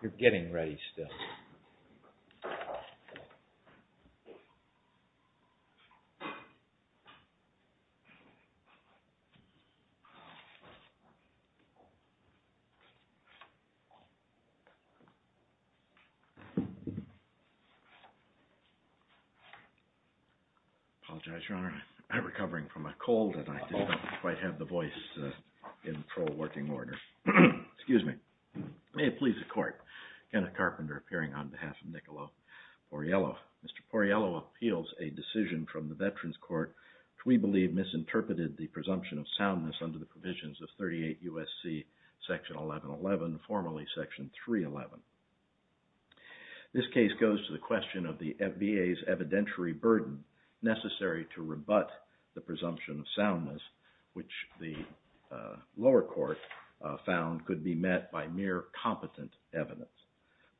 You're getting ready still. I apologize, Your Honor. I'm recovering from a cold and I don't quite have the voice in pro-working order. Excuse me. May it please the Court, Kenneth Carpenter appearing on behalf of Niccolo Porriello. Mr. Porriello appeals a decision from the Veterans Court which we believe misinterpreted the presumption of soundness under the provisions of 38 U.S.C. § 1111, formerly § 311. This case goes to the question of the VA's evidentiary burden necessary to rebut the presumption of soundness which the lower court found could be met by mere competent evidence.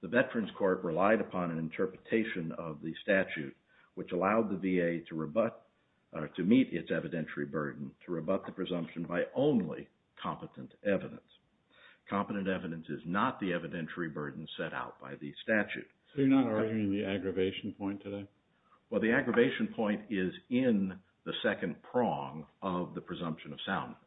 The Veterans Court relied upon an interpretation of the statute which allowed the VA to rebut or to meet its evidentiary burden to rebut the presumption by only competent evidence. Competent evidence is not the evidentiary burden set out by the statute. So you're not arguing the aggravation point today? Well, the aggravation point is in the second prong of the presumption of soundness.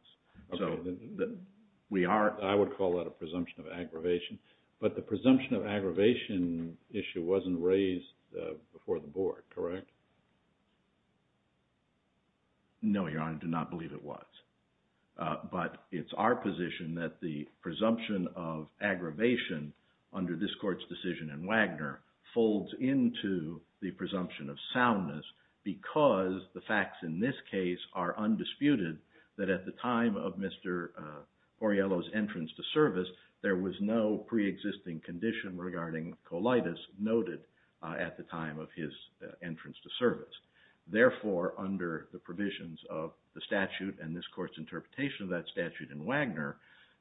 But the presumption of aggravation issue wasn't raised before the Board, correct? No, Your Honor, I do not believe it was. But it's our position that the presumption of aggravation under this Court's decision in Wagner folds into the presumption of soundness because the facts in this case are undisputed that at the time of Mr. Poriello's entry into service, there was no pre-existing condition regarding colitis noted at the time of his entrance to service. Therefore, under the provisions of the statute and this Court's interpretation of that statute in Wagner,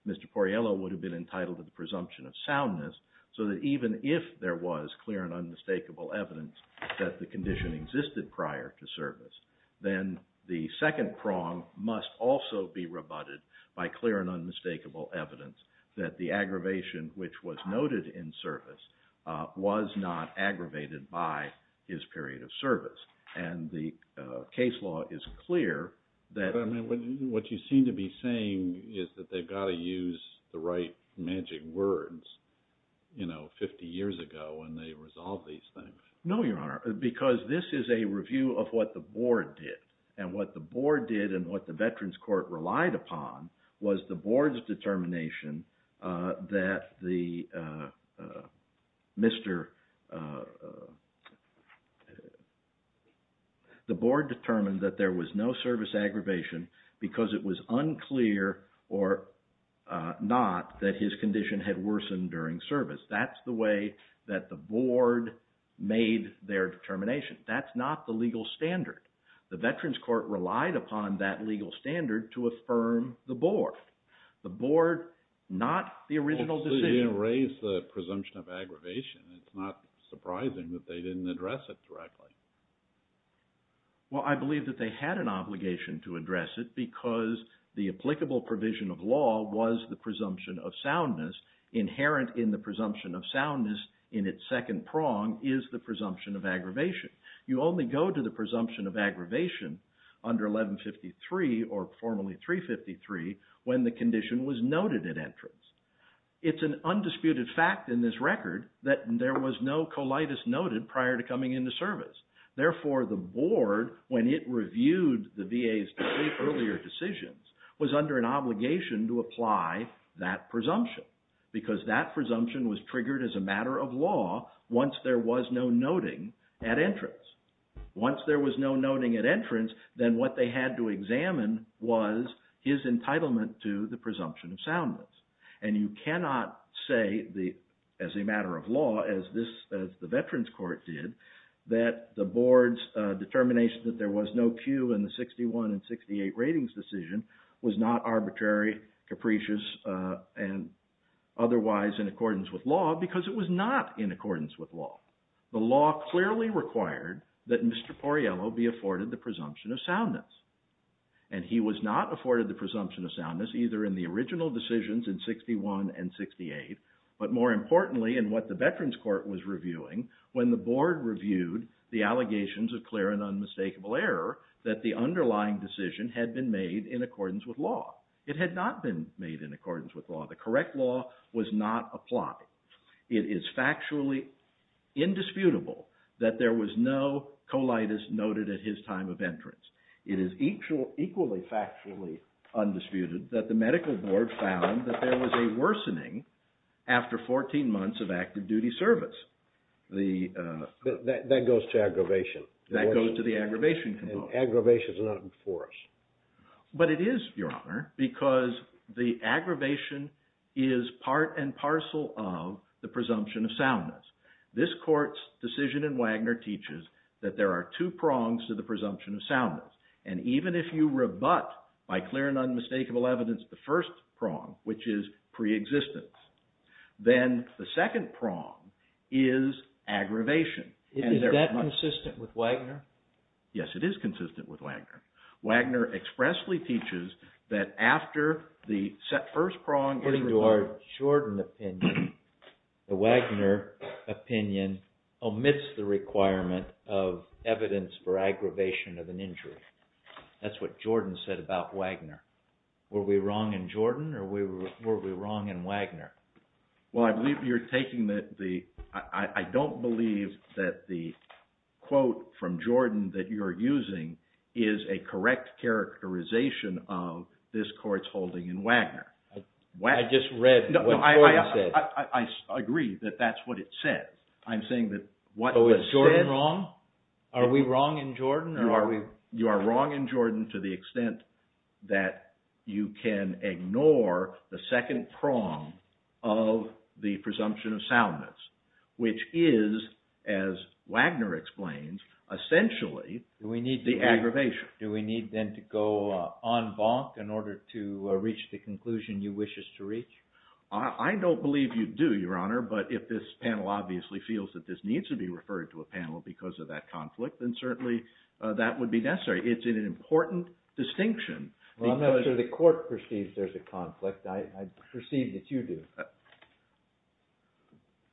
Mr. Poriello would have been entitled to the presumption of soundness so that even if there was clear and unmistakable evidence that the condition existed prior to service, then the second prong must also be rebutted by clear and unmistakable evidence that the aggravation which was noted in service was not aggravated by his period of service. And the case law is clear that... But what you seem to be saying is that they've got to use the right magic words, you know, 50 years ago when they resolved these things. No, Your Honor, because this is a review of what the Board did. And what the Board did and what the Veterans Court relied upon was the Board's determination that the Board determined that there was no service aggravation because it was unclear or not that his condition had worsened during service. That's the way that the Board made their determination. That's not the legal standard. The Veterans Court relied upon that legal standard to affirm the Board. The Board, not the original decision... Well, they raised the presumption of aggravation. It's not surprising that they didn't address it directly. Well, I believe that they had an obligation to address it because the applicable provision of law was the presumption of soundness. Inherent in the presumption of soundness in its second prong is the presumption of aggravation. You only go to the presumption of aggravation under 1153 or formerly 353 when the condition was noted at entrance. It's an undisputed fact in this record that there was no colitis noted prior to coming into service. Therefore, the Board, when it reviewed the VA's three earlier decisions, was under an obligation to apply that presumption because that presumption was triggered as a matter of law once there was no noting at entrance. Once there was no noting at entrance, then what they had to examine was his entitlement to the presumption of soundness. And you cannot say as a matter of law, as the Veterans Court did, that the Board's determination that there was no cue in the 61 and 68 ratings decision was not arbitrary, capricious, and otherwise in accordance with law because it was not in accordance with law. The law clearly required that Mr. Porriello be afforded the presumption of soundness. And he was not afforded the presumption of soundness either in the original decisions in 61 and 68, but more importantly in what the Veterans Court was reviewing when the Board reviewed the allegations of clear and unmistakable error that the underlying decision had been made in accordance with law. It had not been made in accordance with law. The correct law was not applied. It is factually indisputable that there was no colitis noted at his time of entrance. It is equally factually undisputed that the Medical Board found that there was a worsening after 14 months of active duty service. That goes to aggravation. That goes to the aggravation component. And aggravation is not enforced. But it is, Your Honor, because the aggravation is part and parcel of the presumption of soundness. This Court's decision in Wagner teaches that there are two prongs to the presumption of soundness. And even if you rebut by clear and unmistakable evidence the first prong, which is preexistence, then the second prong is aggravation. Is that consistent with Wagner? Yes, it is consistent with Wagner. Wagner expressly teaches that after the first prong is removed... According to our Jordan opinion, the Wagner opinion omits the requirement of evidence for aggravation of an injury. That's what Jordan said about Wagner. Were we wrong in Jordan or were we wrong in Wagner? Well, I believe you're taking the... I don't believe that the quote from Jordan that you're using is a correct characterization of this Court's holding in Wagner. I just read what the Court said. I agree that that's what it said. I'm saying that what was said... Was Jordan wrong? Are we wrong in Jordan or are we... You are wrong in Jordan to the extent that you can ignore the second prong of the presumption of soundness, which is, as Wagner explains, essentially the aggravation. Do we need then to go en banc in order to reach the conclusion you wish us to reach? I don't believe you do, Your Honor, but if this panel obviously feels that this needs to be referred to a panel because of that conflict, then certainly that would be necessary. It's an important distinction. Well, I'm not sure the Court perceives there's a conflict. I perceive that you do.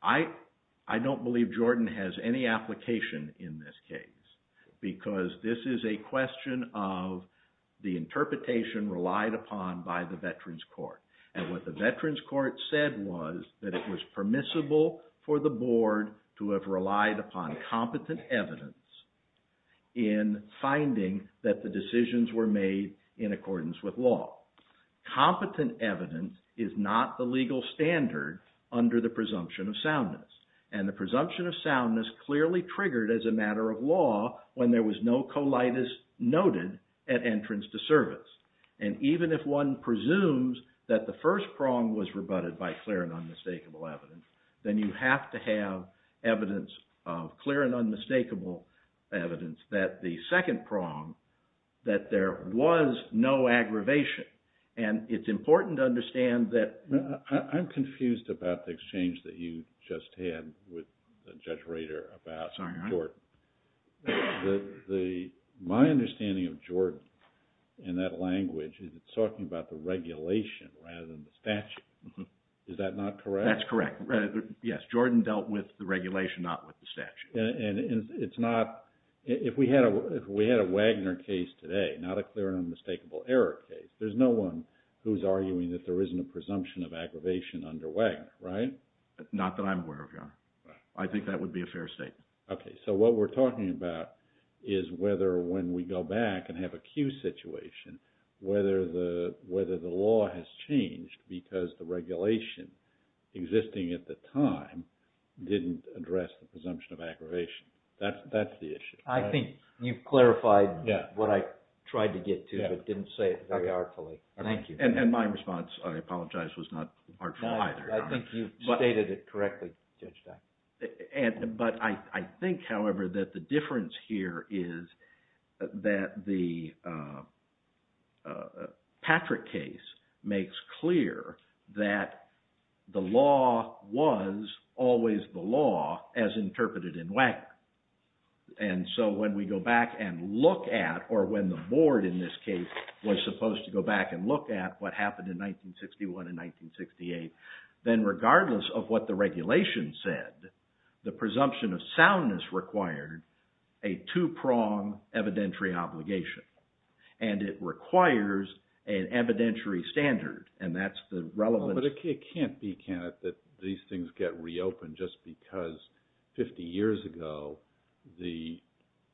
I don't believe Jordan has any application in this case because this is a question of the interpretation relied upon by the Veterans Court. And what the Veterans Court said was that it was permissible for the Board to have relied upon competent evidence in finding that the decisions were made in accordance with law. Competent evidence is not the legal standard under the presumption of soundness. And the presumption of soundness clearly triggered as a matter of law when there was no colitis noted at entrance to service. And even if one presumes that the first prong was rebutted by clear and unmistakable evidence, then you have to have evidence of clear and unmistakable evidence that the second prong, that there was no aggravation. And it's important to understand that… is it's talking about the regulation rather than the statute. Is that not correct? That's correct. Yes, Jordan dealt with the regulation, not with the statute. And it's not – if we had a Wagner case today, not a clear and unmistakable error case, there's no one who's arguing that there isn't a presumption of aggravation under Wagner, right? Not that I'm aware of, Your Honor. I think that would be a fair statement. Okay, so what we're talking about is whether when we go back and have a Q situation, whether the law has changed because the regulation existing at the time didn't address the presumption of aggravation. That's the issue, right? I think you've clarified what I tried to get to, but didn't say it very artfully. Thank you. And my response, I apologize, was not artful either, Your Honor. I think you've stated it correctly, Judge Stein. But I think, however, that the difference here is that the Patrick case makes clear that the law was always the law as interpreted in Wagner. And so when we go back and look at, or when the board in this case was supposed to go back and look at what happened in 1961 and 1968, then regardless of what the regulation said, the presumption of soundness required a two-prong evidentiary obligation. And it requires an evidentiary standard, and that's the relevant… the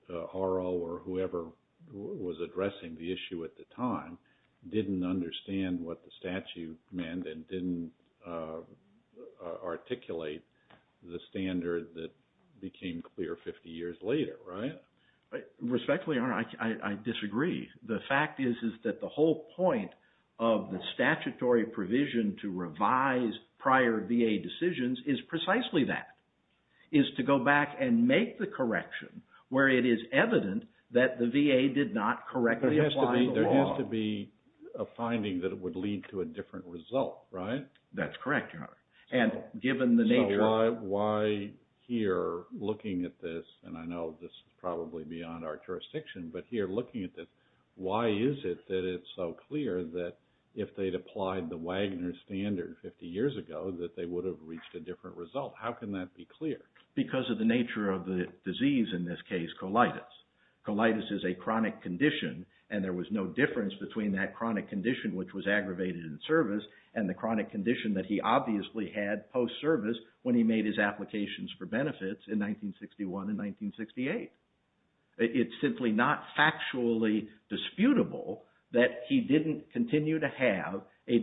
RO or whoever was addressing the issue at the time didn't understand what the statute meant and didn't articulate the standard that became clear 50 years later, right? Respectfully, Your Honor, I disagree. The fact is that the whole point of the statutory provision to revise prior VA decisions is precisely that, is to go back and make the correction where it is evident that the VA did not correctly apply the law. There has to be a finding that it would lead to a different result, right? That's correct, Your Honor. So why here, looking at this, and I know this is probably beyond our jurisdiction, but here looking at this, why is it that it's so clear that if they'd applied the Wagner standard 50 years ago that they would have reached a different result? How can that be clear? Because of the nature of the disease in this case, colitis. Colitis is a chronic condition, and there was no difference between that chronic condition, which was aggravated in service, and the chronic condition that he obviously had post-service when he made his applications for benefits in 1961 and 1968. It's simply not factually disputable that he didn't continue to have a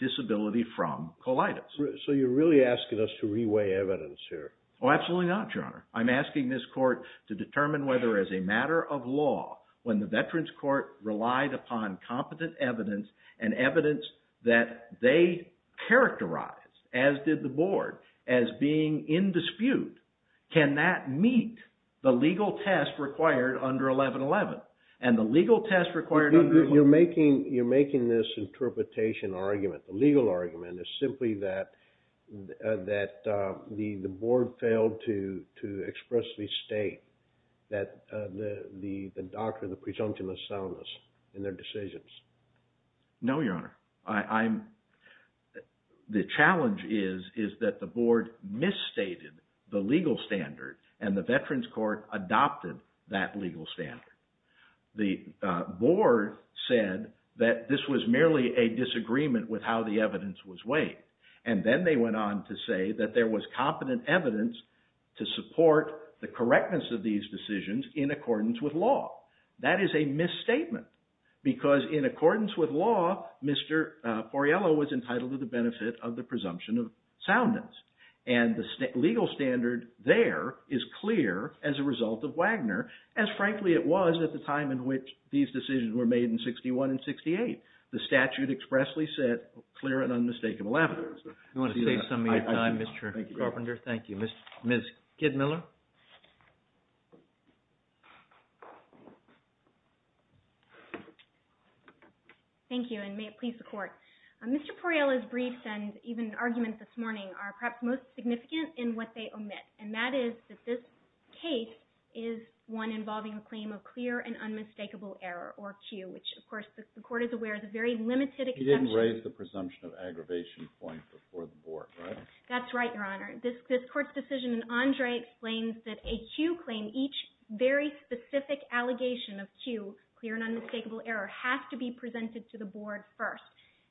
disability from colitis. So you're really asking us to reweigh evidence here? I'm asking this court to determine whether, as a matter of law, when the Veterans Court relied upon competent evidence and evidence that they characterized, as did the board, as being in dispute, can that meet the legal test required under 1111? You're making this interpretation or argument, the legal argument, is simply that the board failed to expressly state that the doctor, the presumption of soundness in their decisions. The challenge is that the board misstated the legal standard, and the Veterans Court adopted that legal standard. The board said that this was merely a disagreement with how the evidence was weighed, and then they went on to say that there was competent evidence to support the correctness of these decisions in accordance with law. That is a misstatement, because in accordance with law, Mr. Foriello was entitled to the benefit of the presumption of soundness. And the legal standard there is clear as a result of Wagner, as frankly it was at the time in which these decisions were made in 1961 and 1968. The statute expressly set clear and unmistakable evidence. I want to save some of your time, Mr. Carpenter. Thank you. Ms. Kidmiller? Thank you, and may it please the Court. Mr. Foriello's briefs and even arguments this morning are perhaps most significant in what they omit, and that is that this case is one involving a claim of clear and unmistakable error, or Q, which of course the Court is aware is a very limited exception. You raised the presumption of aggravation point before the board, right? That's right, Your Honor. This Court's decision in Andre explains that a Q claim, each very specific allegation of Q, clear and unmistakable error, has to be presented to the board first.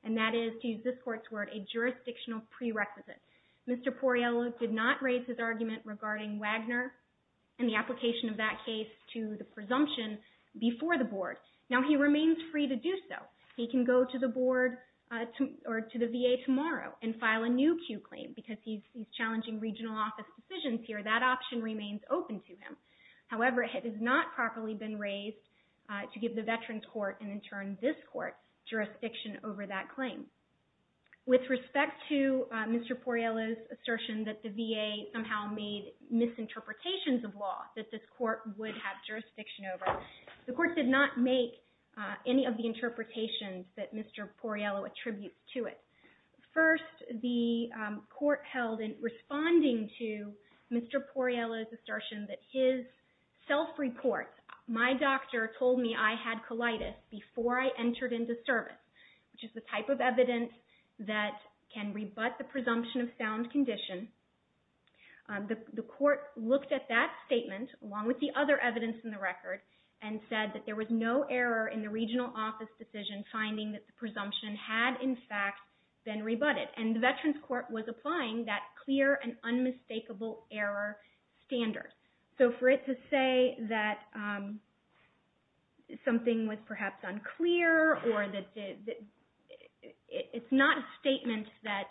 And that is, to use this Court's word, a jurisdictional prerequisite. Mr. Foriello did not raise his argument regarding Wagner and the application of that case to the presumption before the board. Now, he remains free to do so. He can go to the board or to the VA tomorrow and file a new Q claim, because he's challenging regional office decisions here. That option remains open to him. However, it has not properly been raised to give the Veterans Court, and in turn, this Court, jurisdiction over that claim. With respect to Mr. Foriello's assertion that the VA somehow made misinterpretations of law that this Court would have jurisdiction over, the Court did not make any of the interpretations that Mr. Foriello attributes to it. First, the Court held in responding to Mr. Foriello's assertion that his self-report, my doctor told me I had colitis before I entered into service, which is the type of evidence that can rebut the presumption of sound condition. The Court looked at that statement, along with the other evidence in the record, and said that there was no error in the regional office decision finding that the presumption had, in fact, been rebutted. And the Veterans Court was applying that clear and unmistakable error standard. So, for it to say that something was perhaps unclear, or that it's not a statement that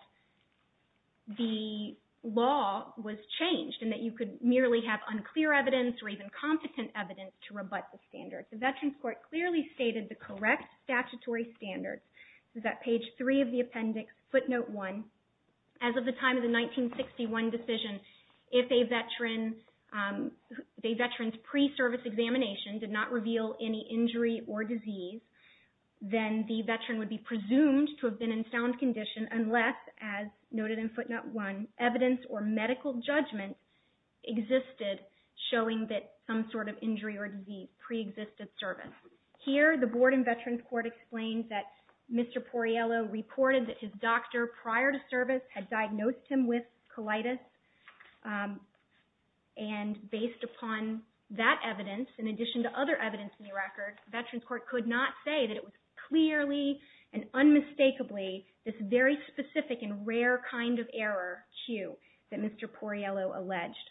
the law was changed, and that you could merely have unclear evidence or even competent evidence to rebut the standard. The Veterans Court clearly stated the correct statutory standards, that page 3 of the appendix, footnote 1, as of the time of the 1961 decision, if a Veteran's pre-service examination did not reveal any injury or disease, then the Veteran would be presumed to have been in sound condition unless, as noted in footnote 1, evidence or medical judgment existed showing that some sort of injury or disease preexisted. Here, the Board and Veterans Court explained that Mr. Porriello reported that his doctor, prior to service, had diagnosed him with colitis, and based upon that evidence, in addition to other evidence in the record, Veterans Court could not say that it was clearly and unmistakably this very specific and rare kind of error, Q, that Mr. Porriello alleged.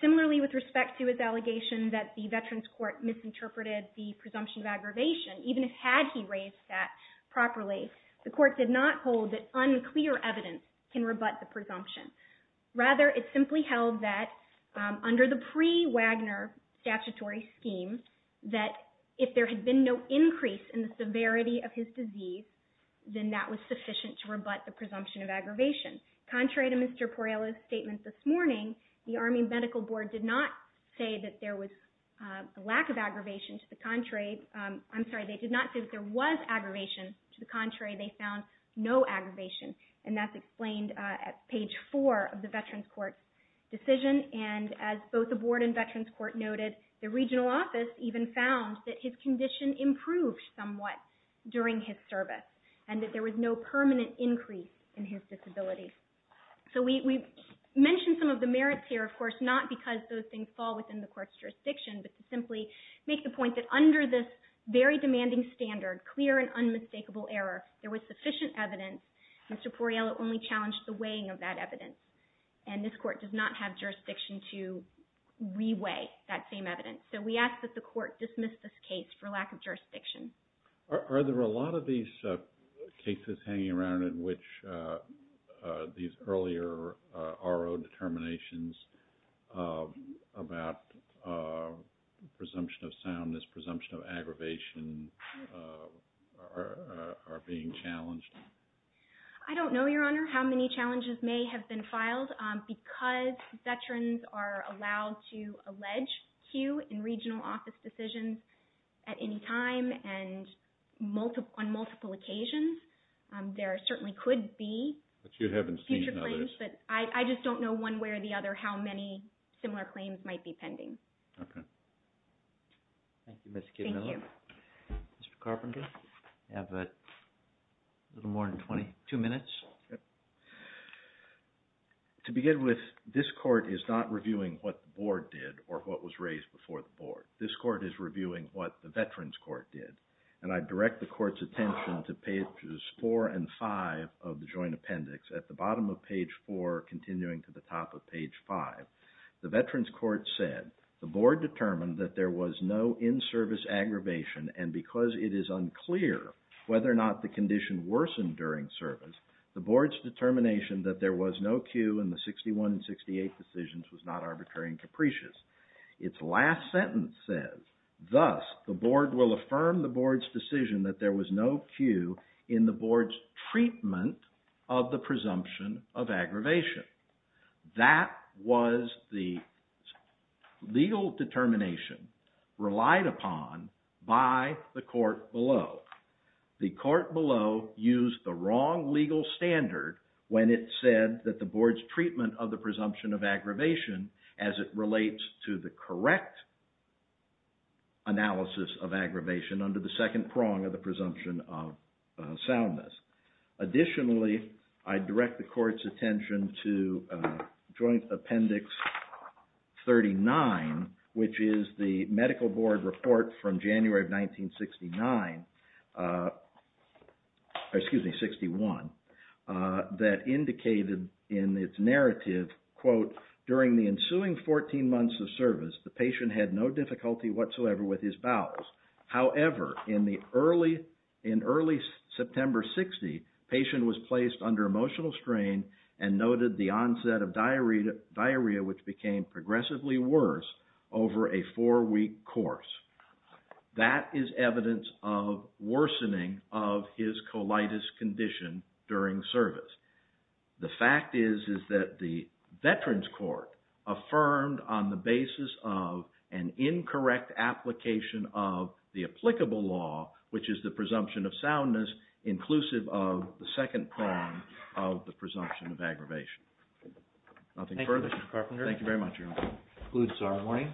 Similarly, with respect to his allegation that the Veterans Court misinterpreted the presumption of aggravation, even had he raised that properly, the Court did not hold that unclear evidence can rebut the presumption. Rather, it simply held that under the pre-Wagner statutory scheme, that if there had been no increase in the severity of his disease, then that was sufficient to rebut the presumption of aggravation. Contrary to Mr. Porriello's statement this morning, the Army Medical Board did not say that there was a lack of aggravation. To the contrary, I'm sorry, they did not say that there was aggravation. To the contrary, they found no aggravation, and that's explained at page 4 of the Veterans Court's decision. And as both the Board and Veterans Court noted, the regional office even found that his condition improved somewhat during his service, and that there was no permanent increase in his disability. So we mentioned some of the merits here, of course, not because those things fall within the Court's jurisdiction, but to simply make the point that under this very demanding standard, clear and unmistakable error, there was sufficient evidence. Mr. Porriello only challenged the weighing of that evidence, and this Court does not have jurisdiction to re-weigh that same evidence. So we ask that the Court dismiss this case for lack of jurisdiction. Are there a lot of these cases hanging around in which these earlier RO determinations about presumption of soundness, presumption of aggravation are being challenged? I don't know, Your Honor, how many challenges may have been filed. Because veterans are allowed to allege cue in regional office decisions at any time and on multiple occasions, there certainly could be future claims. But you haven't seen others. But I just don't know one way or the other how many similar claims might be pending. Okay. Thank you, Ms. Kidman. Thank you. Mr. Carpenter, you have a little more than 22 minutes. To begin with, this Court is not reviewing what the Board did or what was raised before the Board. This Court is reviewing what the Veterans Court did. And I direct the Court's attention to pages 4 and 5 of the Joint Appendix at the bottom of page 4, continuing to the top of page 5. The Veterans Court said, the Board determined that there was no in-service aggravation. And because it is unclear whether or not the condition worsened during service, the Board's determination that there was no cue in the 61 and 68 decisions was not arbitrary and capricious. Its last sentence says, thus, the Board will affirm the Board's decision that there was no cue in the Board's treatment of the presumption of aggravation. That was the legal determination relied upon by the Court below. The Court below used the wrong legal standard when it said that the Board's treatment of the presumption of aggravation as it relates to the correct analysis of aggravation under the second prong of the presumption of soundness. Additionally, I direct the Court's attention to Joint Appendix 39, which is the Medical Board report from January of 1969, excuse me, 61, that indicated in its narrative, quote, the patient was placed under emotional strain and noted the onset of diarrhea, which became progressively worse over a four week course. That is evidence of worsening of his colitis condition during service. The fact is that the Veterans Court affirmed on the basis of an incorrect application of the applicable law, which is the presumption of soundness, inclusive of the second prong of the presumption of aggravation. Thank you, Mr. Carpenter. Thank you very much, Your Honor. This concludes our morning.